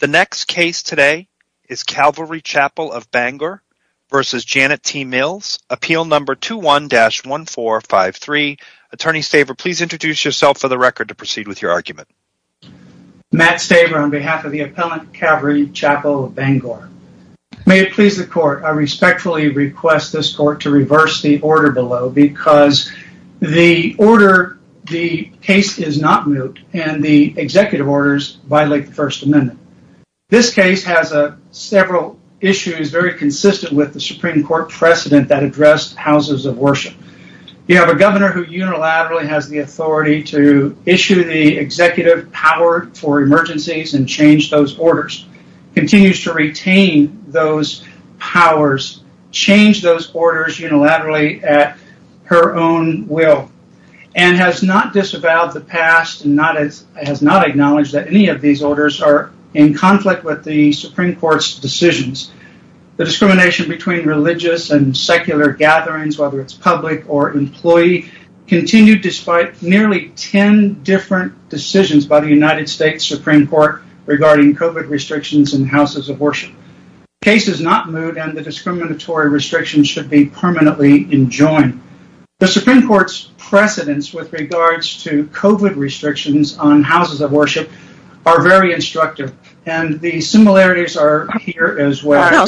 The next case today is Calvary Chapel of Bangor v. Janet T. Mills, appeal number 21-1453. Attorney Staver, please introduce yourself for the record to proceed with your argument. Matt Staver on behalf of the appellant Calvary Chapel of Bangor. May it please the court, I respectfully request this court to reverse the order below because the order, the case is not amended. This case has several issues very consistent with the Supreme Court precedent that addressed houses of worship. You have a governor who unilaterally has the authority to issue the executive power for emergencies and change those orders, continues to retain those powers, change those orders unilaterally at her own will, and has not disavowed the past and has not acknowledged that any of these orders are in conflict with the Supreme Court's decisions. The discrimination between religious and secular gatherings, whether it's public or employee, continued despite nearly 10 different decisions by the United States Supreme Court regarding COVID restrictions and houses of worship. The case is not moved and the discriminatory restrictions should be permanently enjoined. The Supreme Court's precedence with regards to COVID restrictions on houses of worship are very instructive and the similarities are here as well.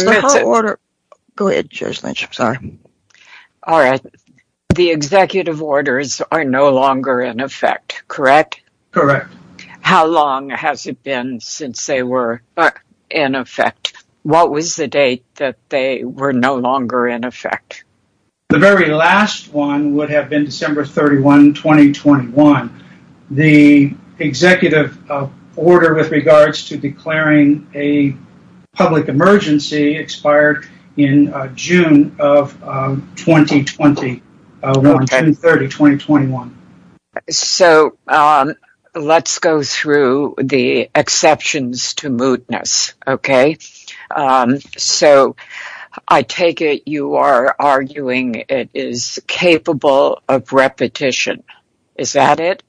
Go ahead, Judge Lynch. I'm sorry. All right. The executive orders are no longer in effect, correct? Correct. How long has it been since they were in effect? What was the date that they were no longer in effect? The very last one would have been December 31, 2021. The executive order with regards to declaring a public emergency expired in June of 2021, June 30, 2021. So, let's go through the exceptions to mootness, okay? So, I take it you are arguing it is capable of repetition. Is that it?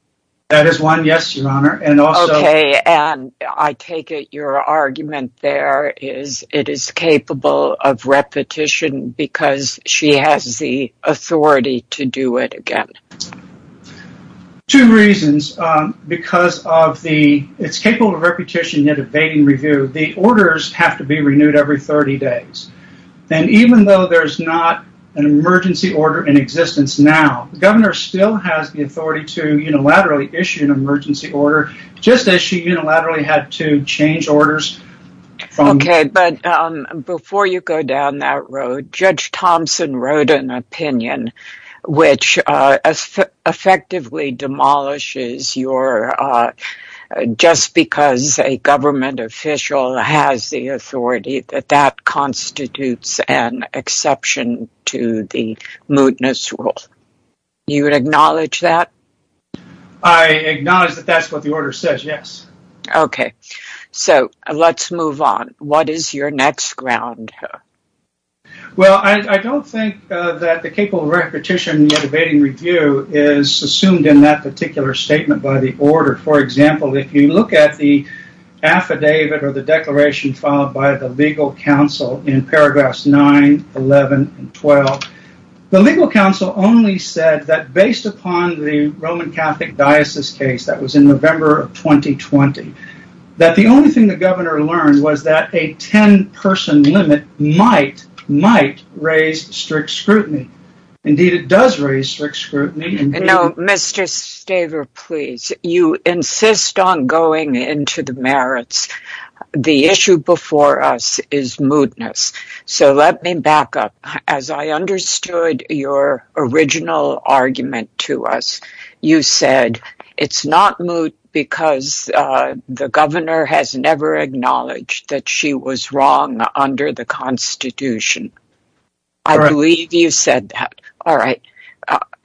That is one, yes, Your Honor, and also- Okay, and I take it your argument there is it is capable of repetition because she has the authority to do it again. Two reasons. Because of the- it's capable of repetition, yet evading review. The orders have to be renewed every 30 days. And even though there's not an emergency order in existence now, the governor still has the authority to unilaterally issue an emergency order, just as she unilaterally had to change orders. Okay, but before you go down that road, Judge Thompson wrote an opinion which effectively demolishes your- just because a government official has the authority that that constitutes an exception to the mootness rule. You would acknowledge that? I acknowledge that that's what the order says, yes. Okay, so let's move on. What is your next ground? Well, I don't think that the capable repetition, yet evading review, is assumed in that particular statement by the order. For example, if you look at the affidavit or the declaration followed by the legal counsel in paragraphs 9, 11, and 12, the legal counsel only said that based upon the Roman Catholic diocese case that was in November of 2020, that the only thing the governor learned was that a 10-person limit might raise strict scrutiny. Indeed, it does raise strict scrutiny. No, Mr. Staver, please, you insist on going into the merits. The issue before us is mootness. So let me back up. As I understood your original argument to us, you said it's not moot because the governor has never acknowledged that she was wrong under the Constitution. I believe you said that. All right.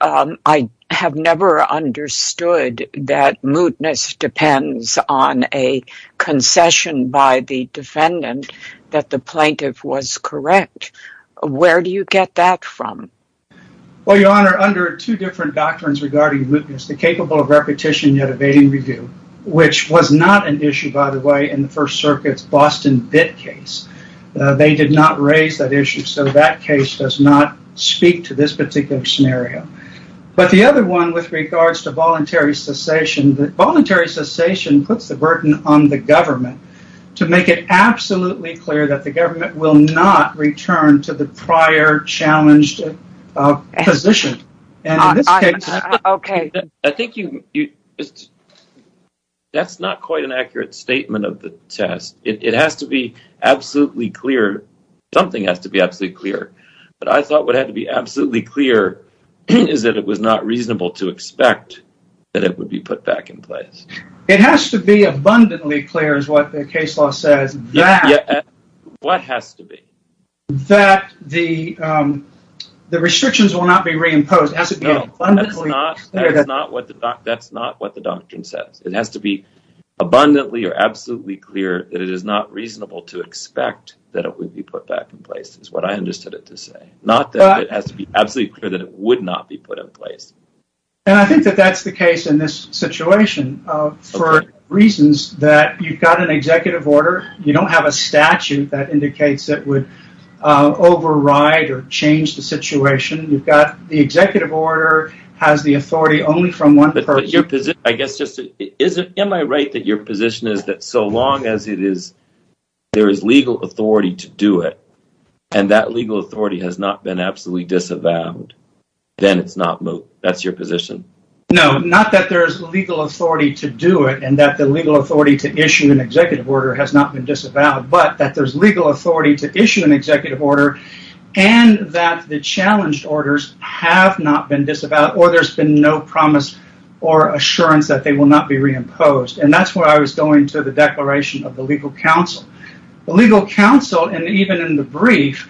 I have never understood that mootness depends on a concession by the defendant that the plaintiff was correct. Where do you get that from? Well, Your Honor, under two different doctrines regarding mootness, the capable of repetition, yet evading review, which was not an issue, by the way, in the First Circuit's Boston Bit case. They did not raise that issue. So that case does not speak to this particular scenario. But the other one with regards to voluntary cessation, voluntary cessation puts the burden on the government to make it absolutely clear that the government will not return to the prior challenged position. That's not quite an accurate statement of the test. It has to be absolutely clear. Something has to be absolutely clear. But I thought what had to be absolutely clear is that it was not reasonable to expect that it would be put back in place. It has to abundantly clear, is what the case law says, that the restrictions will not be reimposed. That's not what the doctrine says. It has to be abundantly or absolutely clear that it is not reasonable to expect that it would be put back in place. That's what I understood it to say. Not that it has to be absolutely clear that it would not be put in place. And I think that that's the case in this situation for reasons that you've got an executive order. You don't have a statute that indicates it would override or change the situation. You've got the executive order has the authority only from one person. Am I right that your position is that so long as there is legal authority to do it, and that legal authority has not been absolutely disavowed, then it's not moot? That's your position? No, not that there's legal authority to do it and that the legal authority to issue an executive order has not been disavowed, but that there's legal authority to issue an executive order and that the challenged orders have not been disavowed or there's been no promise or assurance that they will not be reimposed. And that's where I was going to the declaration of legal counsel. The legal counsel, and even in the brief,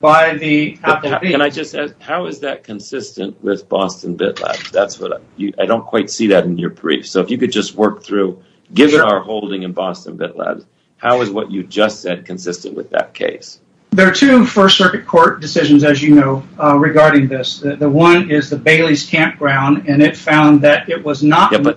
by the... How is that consistent with Boston BitLabs? I don't quite see that in your brief. So if you could just work through, given our holding in Boston BitLabs, how is what you just said consistent with that case? There are two First Circuit Court decisions, as you know, regarding this. The one is the Bailey's Campground and it found that it followed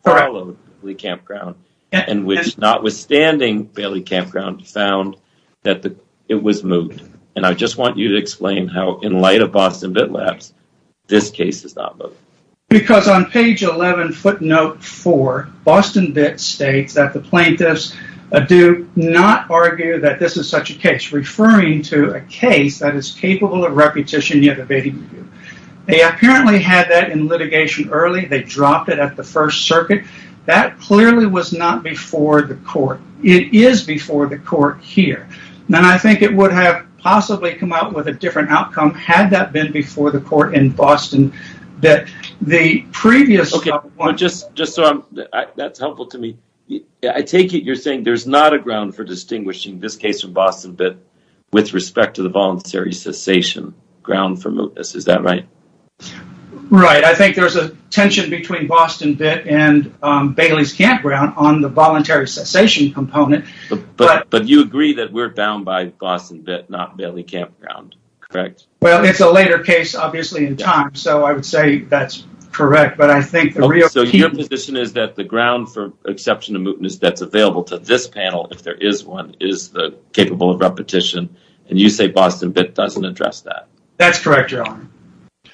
Bailey's Campground and which, notwithstanding Bailey's Campground, found that it was moot. And I just want you to explain how, in light of Boston BitLabs, this case is not moot. Because on page 11 footnote 4, Boston Bit states that the plaintiffs do not argue that this is such a case, referring to a case that is capable of repetition yet That clearly was not before the court. It is before the court here. And I think it would have possibly come out with a different outcome had that been before the court in Boston. That's helpful to me. I take it you're saying there's not a ground for distinguishing this case from Boston Bit with respect to the voluntary cessation ground for mootness. Is that right? Right. I think there's a tension between Boston Bit and Bailey's Campground on the voluntary cessation component. But you agree that we're bound by Boston Bit, not Bailey Campground, correct? Well, it's a later case, obviously, in time. So I would say that's correct. But I think your position is that the ground for exception of mootness that's available to this panel, if there is one, is capable of repetition. And you say Boston Bit doesn't address that. That's correct, Your Honor.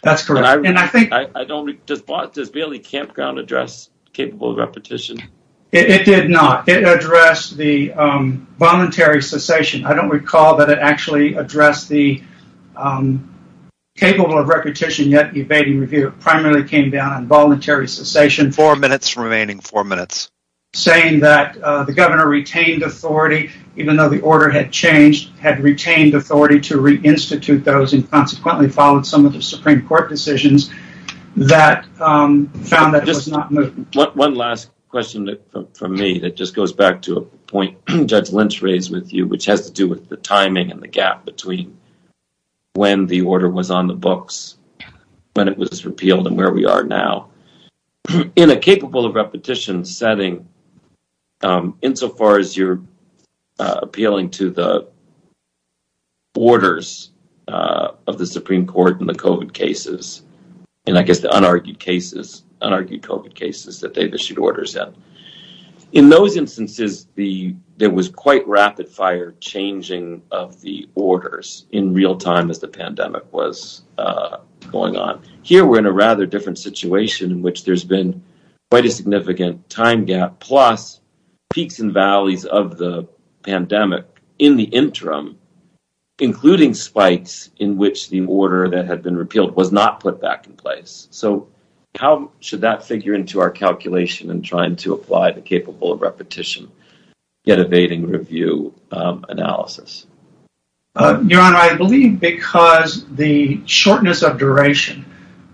Does Bailey Campground address capable of repetition? It did not. It addressed the voluntary cessation. I don't recall that it actually addressed the capable of repetition yet evading review. It primarily came down on voluntary cessation. Four minutes remaining. Four minutes. Saying that the governor retained authority, even though the order had changed, had retained authority to reinstitute those and consequently followed some of the Supreme Court decisions that found that it was not moot. One last question from me that just goes back to a point Judge Lynch raised with you, which has to do with the timing and the gap between when the order was on the books, when it was repealed and where we are now. In a capable of repetition setting, insofar as you're appealing to the orders of the Supreme Court in the COVID cases, and I guess the unargued cases, unargued COVID cases that they've issued orders in, in those instances, there was quite rapid fire changing of the orders in real time as the pandemic was going on. Here we're in a rather different situation in which there's been quite a significant time gap plus peaks and valleys of the pandemic in the interim, including spikes in which the order that had been repealed was not put back in place. How should that figure into our calculation in trying to apply the capable of repetition yet evading review analysis? Your Honor, I believe because the shortness of time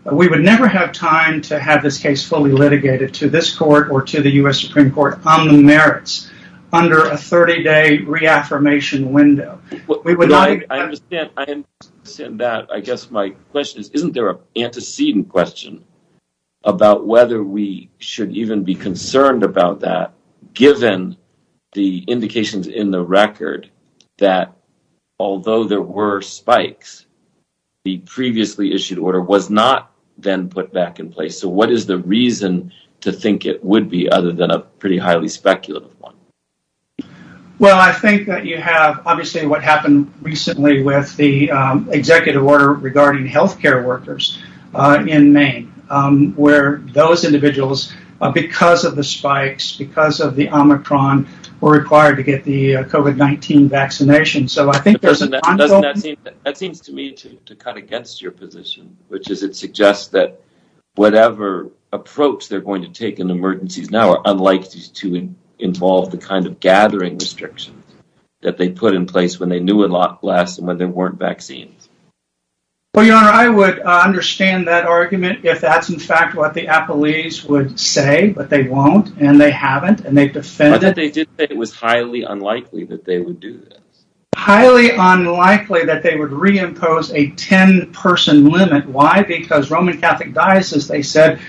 to have this case fully litigated to this court or to the U.S. Supreme Court on the merits under a 30-day reaffirmation window. I understand that. I guess my question is, isn't there an antecedent question about whether we should even be concerned about that given the indications in the record that although there were spikes, the previously issued order was not then put back in place. So what is the reason to think it would be other than a pretty highly speculative one? Well, I think that you have obviously what happened recently with the executive order regarding healthcare workers in Maine, where those individuals because of the spikes, because of the Omicron, were required to get the COVID-19 vaccination. So I think there's That seems to me to cut against your position, which is it suggests that whatever approach they're going to take in emergencies now are unlikely to involve the kind of gathering restrictions that they put in place when they knew a lot less and when there weren't vaccines. Well, Your Honor, I would understand that argument if that's in fact what the appellees would say, but they won't, and they haven't, and they've defended it. They did say it was highly unlikely that they would do this. Highly unlikely that they would reimpose a 10-person limit. Why? Because Roman Catholic diocese, they said,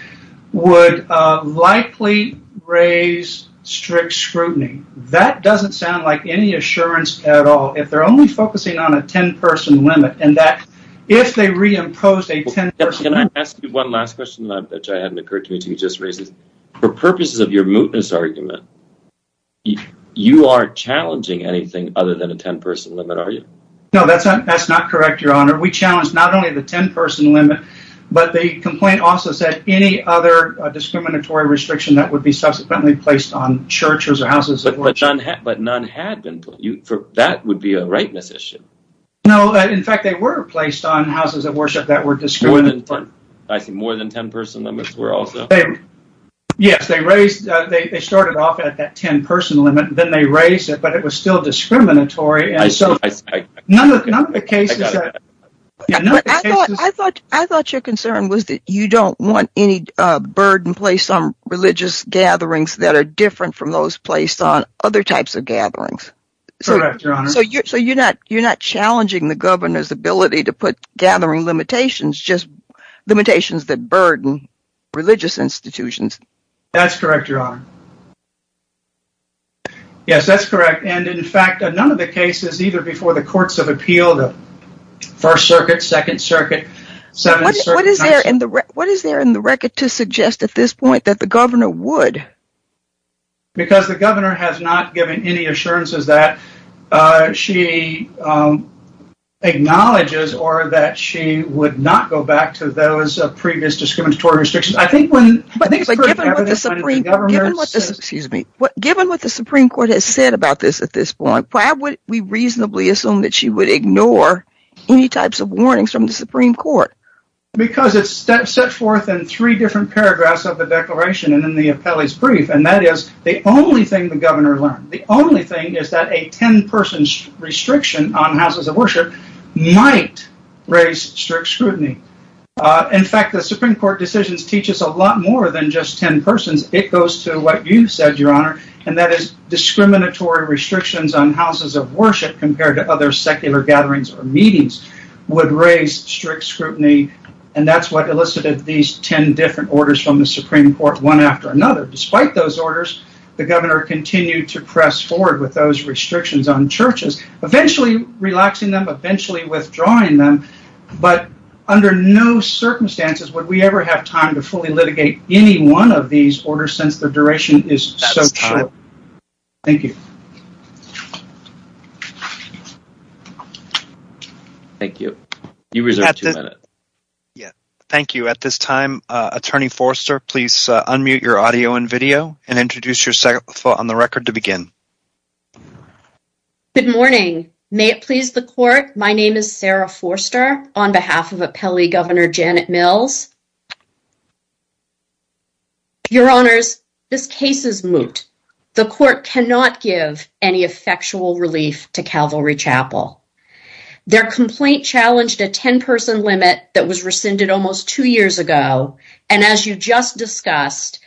would likely raise strict scrutiny. That doesn't sound like any assurance at all if they're only focusing on a 10-person limit and that if they reimpose a 10-person limit. Can I ask you one last question, which I hadn't occurred to me until you just raised this? For purposes of your mootness argument, you aren't challenging anything other than a 10-person limit, are you? No, that's not correct, Your Honor. We challenged not only the 10-person limit, but the complaint also said any other discriminatory restriction that would be subsequently placed on churches or houses of worship. But none had been. That would be a rightness issue. No, in fact, they were placed on houses of worship that were discriminatory. I see more than 10-person limits were also. Yes, they started off at that 10-person limit. Then they raised it, but it was still discriminatory. I thought your concern was that you don't want any burden placed on religious gatherings that are different from those placed on other types of gatherings. So you're not challenging the governor's ability to put gathering limitations, just limitations that burden religious institutions. That's correct, Your Honor. Yes, that's correct. And in fact, none of the cases either before the courts have appealed First Circuit, Second Circuit. What is there in the record to suggest at this point that the governor would? Because the governor has not given any assurances that she acknowledges or that she would not go back to those previous discriminatory restrictions. Given what the Supreme Court has said about this at this point, why would we reasonably assume that she would ignore any types of warnings from the Supreme Court? Because it's set forth in three different paragraphs of the declaration and in the appellee's brief. And that is the only thing the governor learned. The only thing is that a 10-person restriction on houses of worship might raise strict scrutiny. In fact, the Supreme Court decisions teach us a lot more than just 10 persons. It goes to what you said, Your Honor, and that is discriminatory restrictions on houses of worship compared to other secular gatherings or meetings would raise strict scrutiny. And that's what elicited these 10 different orders from the Supreme Court one after another. Despite those orders, the governor continued to press forward with those restrictions on churches, eventually relaxing them, eventually withdrawing them. But under no circumstances would we ever have time to fully litigate any one of these orders since the duration is so short. Thank you. Thank you. You reserved two minutes. Yeah, thank you. At this time, Attorney Forster, please unmute your audio and video and introduce yourself on the record to begin. Good morning. May it please the court, my name is Sarah Forster on behalf of Appellee Governor Janet Mills. Your Honors, this case is moot. The court cannot give any effectual relief to Calvary Chapel. Their complaint challenged a 10 person limit that was rescinded almost two years ago. And as you just discussed,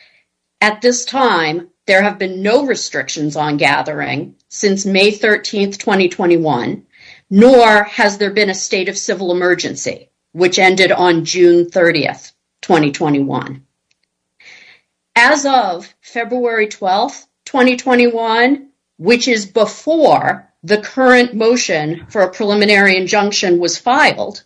at this time, there have been no restrictions on gathering since May 13th, 2021, nor has there been a state of civil emergency, which ended on June 30th, 2021. As of February 12th, 2021, which is before the current motion for a preliminary injunction was filed,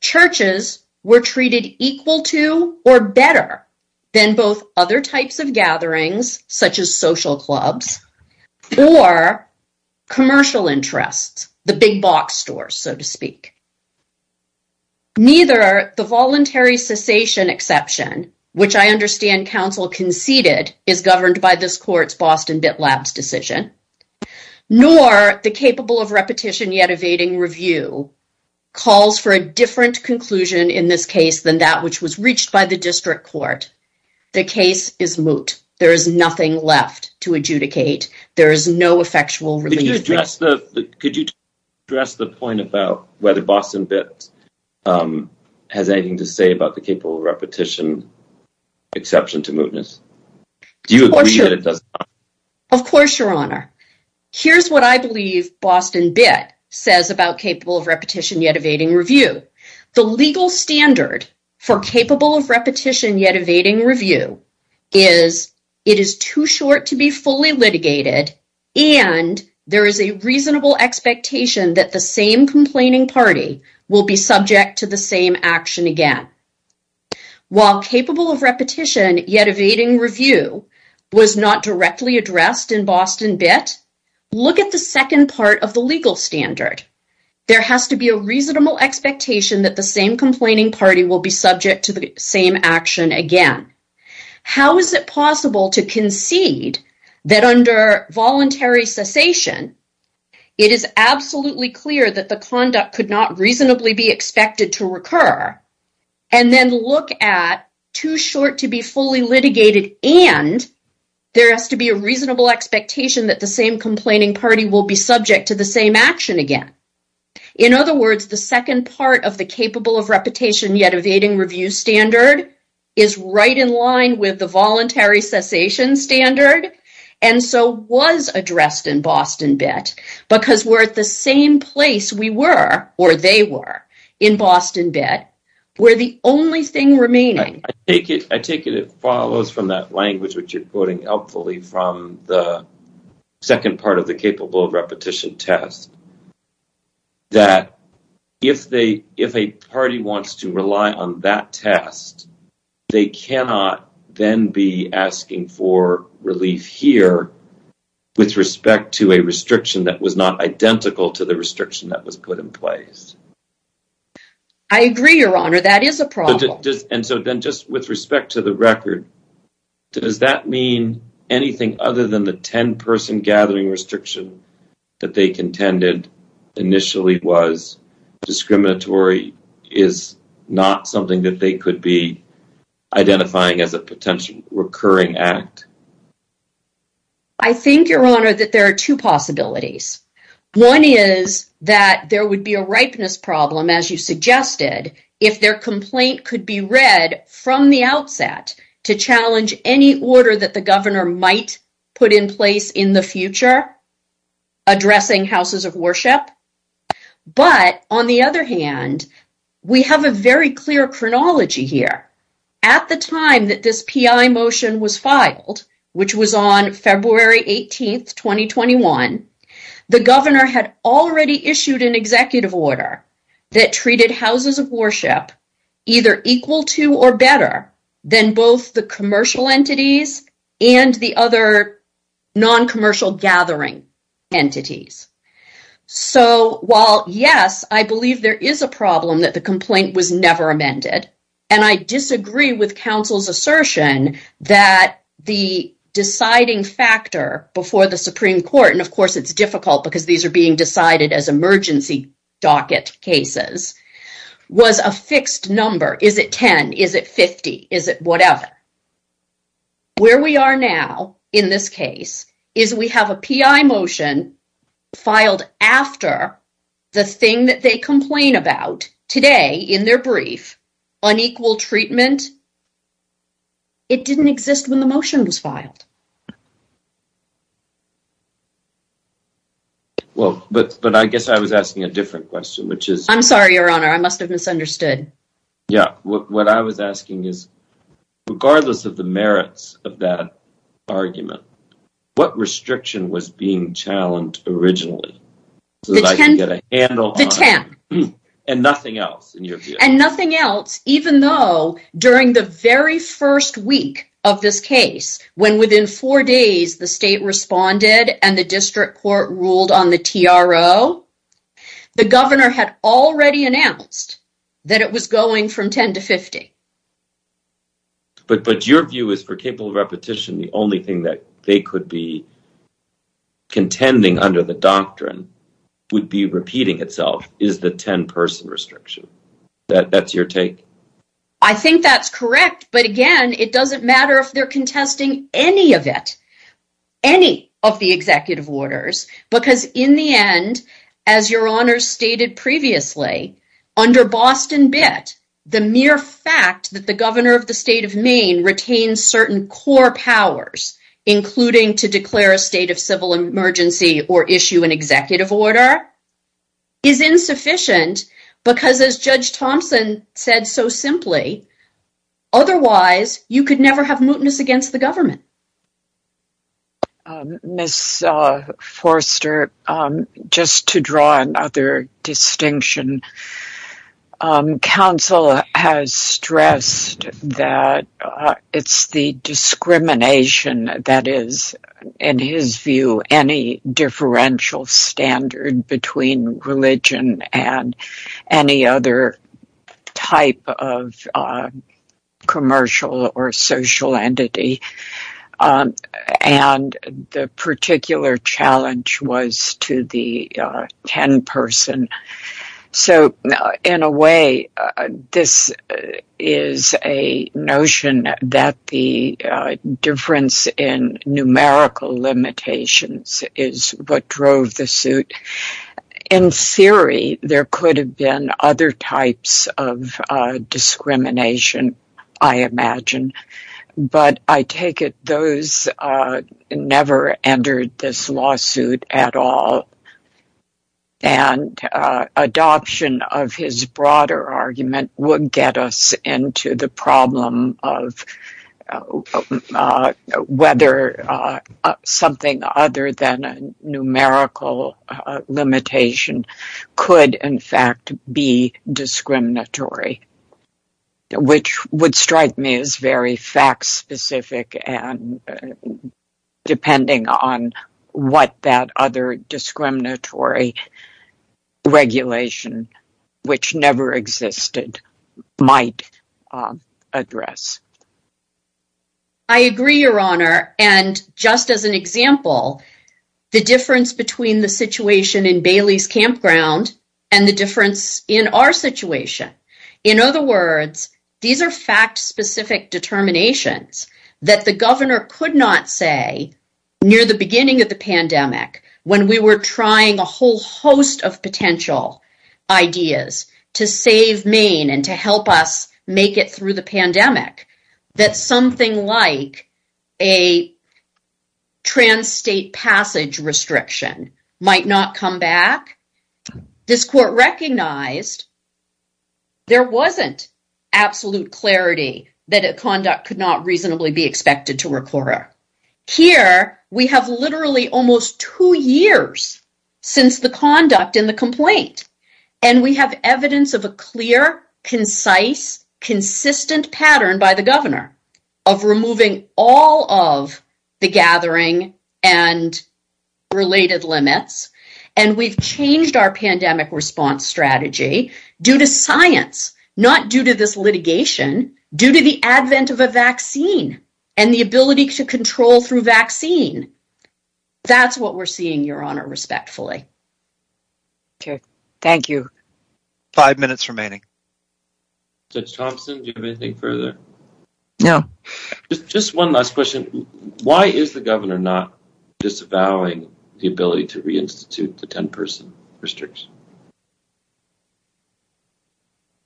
churches were treated equal to or better than both other types of gatherings, such as social clubs, or commercial interests, the big box stores, so to speak. Neither the voluntary cessation exception, which I understand counsel conceded, is governed by this court's Boston Bit Labs decision, nor the capable of repetition yet evading review, calls for a different conclusion in this case than that which was reached by the district court. The case is moot. There is nothing left to adjudicate. There is no effectual relief. Could you address the point about whether Boston Bit has anything to say about the capable of repetition exception to mootness? Do you agree that it does not? Of course, your honor. Here's what I believe Boston Bit says about capable of repetition yet evading review. The legal standard for capable of repetition yet evading review is it is too short to be fully litigated and there is a reasonable expectation that the same complaining party will be subject to the same action again. While capable of repetition yet evading review was not directly addressed in Boston Bit, look at the second part of the legal standard. There has to be a reasonable expectation that the same complaining party will be subject to same action again. How is it possible to concede that under voluntary cessation, it is absolutely clear that the conduct could not reasonably be expected to recur? And then look at too short to be fully litigated and there has to be a reasonable expectation that the same complaining party will be subject to the same action again. In other words, the second part of the capable of repetition yet evading review standard is right in line with the voluntary cessation standard and so was addressed in Boston Bit because we're at the same place we were or they were in Boston Bit. We're the only thing remaining. I take it it follows from that language which you're quoting helpfully from the second part of the capable of repetition test that if a party wants to rely on that test, they cannot then be asking for relief here with respect to a restriction that was not identical to the restriction that was put in place. I agree, your honor. That is a problem. And so then just with respect to the record, does that mean anything other than the 10 person gathering restriction that they contended initially was discriminatory is not something that they could be identifying as a potential recurring act? I think your honor that there are two possibilities. One is that there would be a challenge to any order that the governor might put in place in the future addressing houses of worship. But on the other hand, we have a very clear chronology here. At the time that this PI motion was filed, which was on February 18th, 2021, the governor had already issued an executive order that treated houses of worship either equal to or better than both the commercial entities and the other non-commercial gathering entities. So while yes, I believe there is a problem that the complaint was never amended, and I disagree with counsel's assertion that the deciding factor before the Supreme Court, and of course it's difficult because these are being decided as emergency docket cases, was a fixed number. Is it 10? Is it 50? Is it whatever? Where we are now in this case is we have a PI motion filed after the thing that they complain about today in their brief, unequal treatment. It didn't exist when the motion was filed. Well, but I guess I was asking a different question, which is... I'm sorry, Your Honor. I must have misunderstood. Yeah. What I was asking is, regardless of the merits of that argument, what restriction was being challenged originally? So that I can get a handle on it. The 10. And nothing else, in your view. And nothing else, even though during the very first week of this case, when we didn't have a 10, and within four days the state responded and the district court ruled on the TRO, the governor had already announced that it was going from 10 to 50. But your view is, for capable repetition, the only thing that they could be contending under the doctrine would be repeating itself, is the 10-person restriction. That's your take? I think that's correct. But again, it doesn't matter if they're contesting any of it, any of the executive orders, because in the end, as Your Honor stated previously, under Boston BIT, the mere fact that the governor of the state of Maine retains certain core powers, including to declare a state of civil emergency or issue an executive order, is insufficient, because as Judge Thompson said so simply, otherwise you could never have mootness against the government. Ms. Forster, just to draw another distinction, counsel has stressed that it's the discrimination that is, in his view, any differential standard between religion and any other type of commercial or social entity, and the particular challenge was to the 10-person. So in a way, this is a notion that the difference in numerical limitations is what drove the suit. In theory, there could have been other types of discrimination, I imagine, but I take it those never entered this lawsuit at all, and adoption of his broader argument would get us into the problem of whether something other than a numerical limitation could, in fact, be discriminatory, which would strike me as very fact-specific and depending on what that other discriminatory regulation, which never existed, might address. I agree, Your Honor, and just as an example, the difference between the situation in Bailey's campground and the difference in our situation in other words, these are fact-specific determinations that the governor could not say near the beginning of the pandemic when we were trying a whole host of potential ideas to save Maine and to help us make it through the pandemic, that something like a trans-state passage restriction might not come back, this court recognized there wasn't absolute clarity that a conduct could not reasonably be expected to require. Here, we have literally almost two years since the conduct in the complaint, and we have evidence of a clear, concise, consistent pattern by the governor of removing all of the gathering and related limits, and we've changed our pandemic response strategy due to science, not due to this litigation, due to the advent of a vaccine and the ability to control through vaccine. That's what we're seeing, Your Honor, respectfully. Okay, thank you. Five minutes remaining. Judge Thompson, do you have anything further? No. Just one last question. Why is the governor not disavowing the ability to re-institute the 10-person restriction?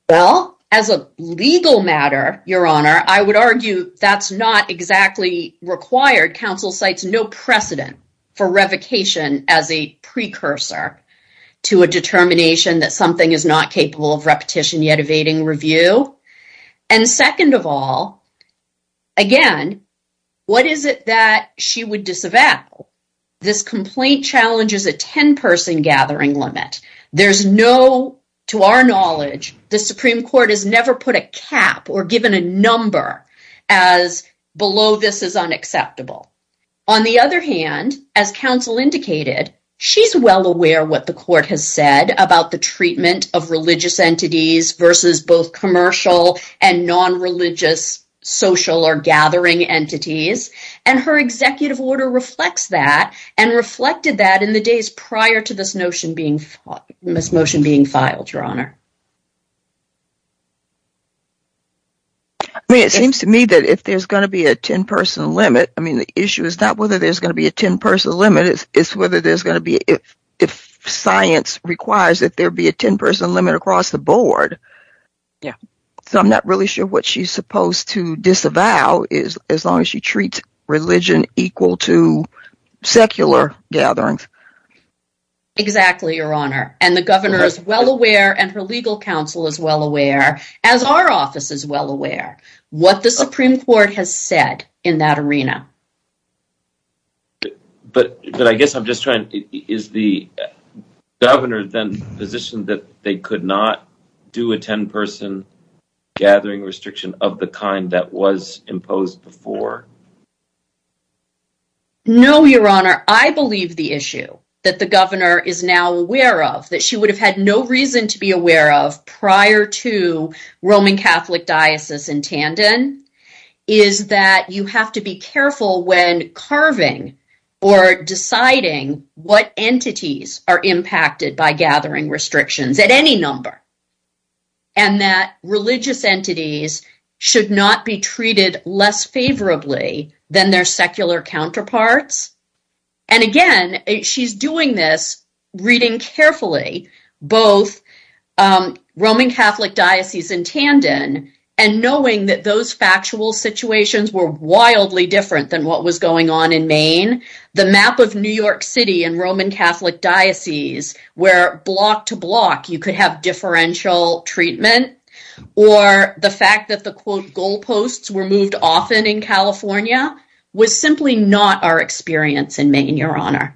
Well, as a legal matter, Your Honor, I would argue that's not exactly required. Counsel cites no precedent for revocation as a precursor to a determination that something is not capable of repetition yet evading review, and second of all, again, what is it that she would disavow? This complaint challenges a 10-person gathering limit. There's no, to our knowledge, the Supreme Court has never put a cap or given a number as below this is unacceptable. On the other hand, as counsel indicated, she's well aware what the treatment of religious entities versus both commercial and non-religious social or gathering entities, and her executive order reflects that and reflected that in the days prior to this motion being filed, Your Honor. I mean, it seems to me that if there's going to be a 10-person limit, I mean, the issue is not whether there's going to be a 10-person limit, it's whether there's going to be, if science requires that there be a 10-person limit across the board. Yeah. So I'm not really sure what she's supposed to disavow is as long as she treats religion equal to secular gatherings. Exactly, Your Honor, and the governor is well aware and her legal counsel is well aware, as our office is well aware, what the Supreme Court has said in that arena. But I guess I'm just trying, is the governor then positioned that they could not do a 10-person gathering restriction of the kind that was imposed before? No, Your Honor, I believe the issue that the governor is now aware of, that she would have had no reason to be aware of prior to Roman Catholic Diocese in Tandon, is that you have to be careful when carving or deciding what entities are impacted by gathering restrictions, at any number, and that religious entities should not be treated less favorably than their secular counterparts. And again, she's doing this reading carefully both Roman Catholic Diocese in Tandon and knowing that those factual situations were wildly different than what was going on in Maine. The map of New York City and Roman Catholic Diocese, where block to block you could have differential treatment, or the fact that the quote goalposts were moved often in California, was simply not our experience in Maine, Your Honor.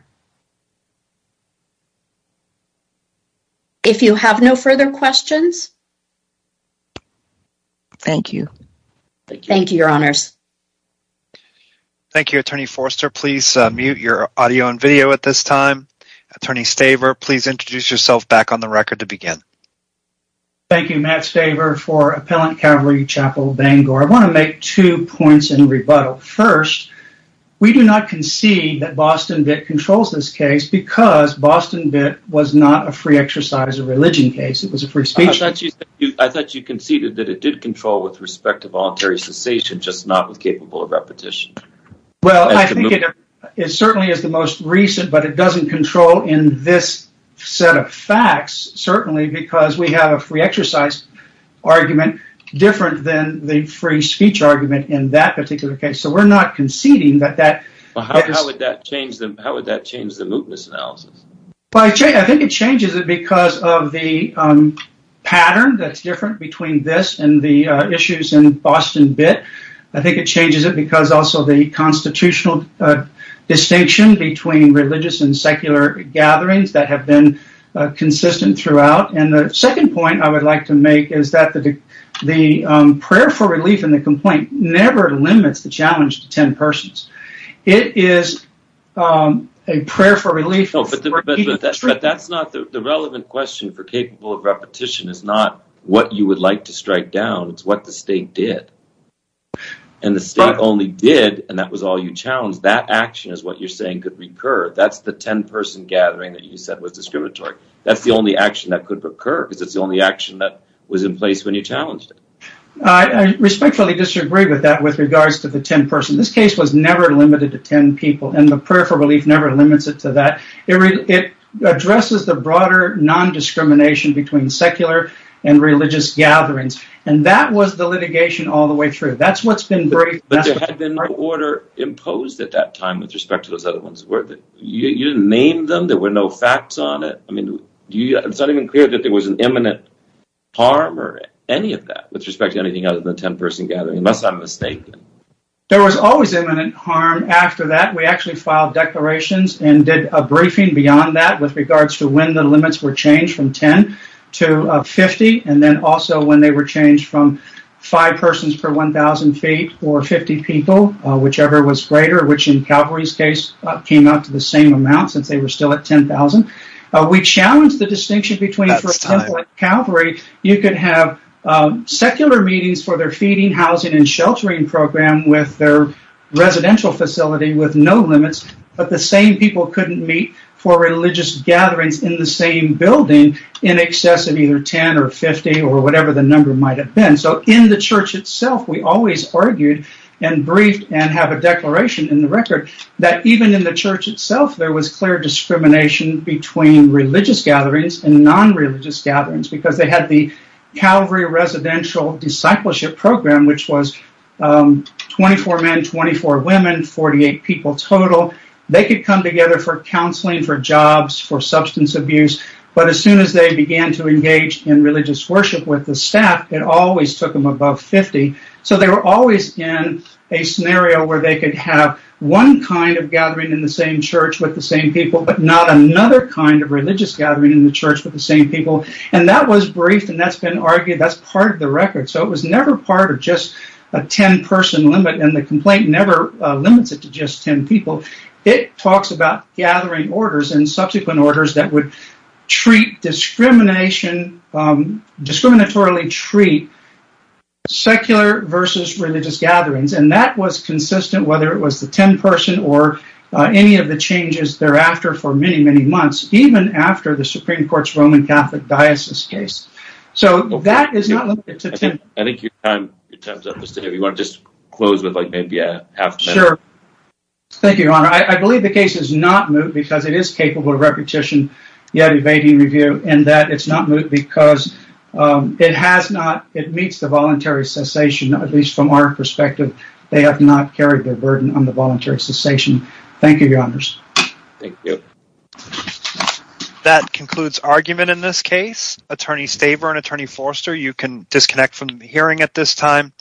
If you have no further questions. Thank you. Thank you, Your Honors. Thank you, Attorney Forster. Please mute your audio and video at this time. Attorney Staver, please introduce yourself back on the record to begin. Thank you, Matt Staver for Appellant Cavalry, Chapel Bangor. I want to make two points in because Boston bit was not a free exercise of religion case. It was a free speech. I thought you conceded that it did control with respect to voluntary cessation, just not with capable of repetition. Well, I think it certainly is the most recent, but it doesn't control in this set of facts, certainly, because we have a free exercise argument, different than the free speech argument in that particular case. So we're not conceding that that changed them. How would that change the mootness analysis? Well, I think it changes it because of the pattern that's different between this and the issues in Boston bit. I think it changes it because also the constitutional distinction between religious and secular gatherings that have been consistent throughout. And the second point I would like to make is that the prayer for relief in the complaint never limits the prayer for relief. No, but that's not the relevant question for capable of repetition. It's not what you would like to strike down. It's what the state did. And the state only did, and that was all you challenged. That action is what you're saying could recur. That's the 10-person gathering that you said was discriminatory. That's the only action that could recur because it's the only action that was in place when you challenged it. I respectfully disagree with that with regards to the 10-person. This case was never limited to 10 people, and the prayer for relief never limits it to that. It addresses the broader non-discrimination between secular and religious gatherings, and that was the litigation all the way through. That's what's been briefed. But there had been no order imposed at that time with respect to those other ones. You didn't name them. There were no facts on it. I mean, it's not even clear that there was an imminent harm or any of that with respect to anything other than the 10-person gathering, unless I'm mistaken. There was always imminent harm after that. We actually filed declarations and did a briefing beyond that with regards to when the limits were changed from 10 to 50, and then also when they were changed from five persons per 1,000 feet or 50 people, whichever was greater, which in Calvary's case came out to the same amount since they were still at 10,000. We challenged the distinction between, for example, at Calvary, you could have secular meetings for their feeding, housing, and sheltering program with their residential facility with no limits, but the same people couldn't meet for religious gatherings in the same building in excess of either 10 or 50 or whatever the number might have been. So in the church itself, we always argued and briefed and have a declaration in the record that even in the church itself, there was clear discrimination between religious gatherings and non-religious gatherings because they had the Calvary residential discipleship program, which was 24 men, 24 women, 48 people total. They could come together for counseling, for jobs, for substance abuse, but as soon as they began to engage in religious worship with the staff, it always took them above 50. So they were always in a scenario where they could have one kind of gathering in the same church with the same people, but not another kind of religious gathering in the church with the same people. And that was briefed and that's part of the record. So it was never part of just a 10-person limit and the complaint never limits it to just 10 people. It talks about gathering orders and subsequent orders that would treat discrimination, discriminatorily treat secular versus religious gatherings, and that was consistent whether it was the 10-person or any of the changes thereafter for many, many months, even after the Supreme Court's Roman Catholic Diocese case. So that is not limited to 10. I think your time is up. Do you want to just close with maybe a half minute? Sure. Thank you, Your Honor. I believe the case is not moot because it is capable of repetition yet evading review and that it's not moot because it meets the voluntary cessation, at least from our perspective. They have not carried their burden on the voluntary cessation. Thank you, Your Honors. Thank you. That concludes argument in this case. Attorney Staver and Attorney Forster, you can disconnect from the hearing at this time.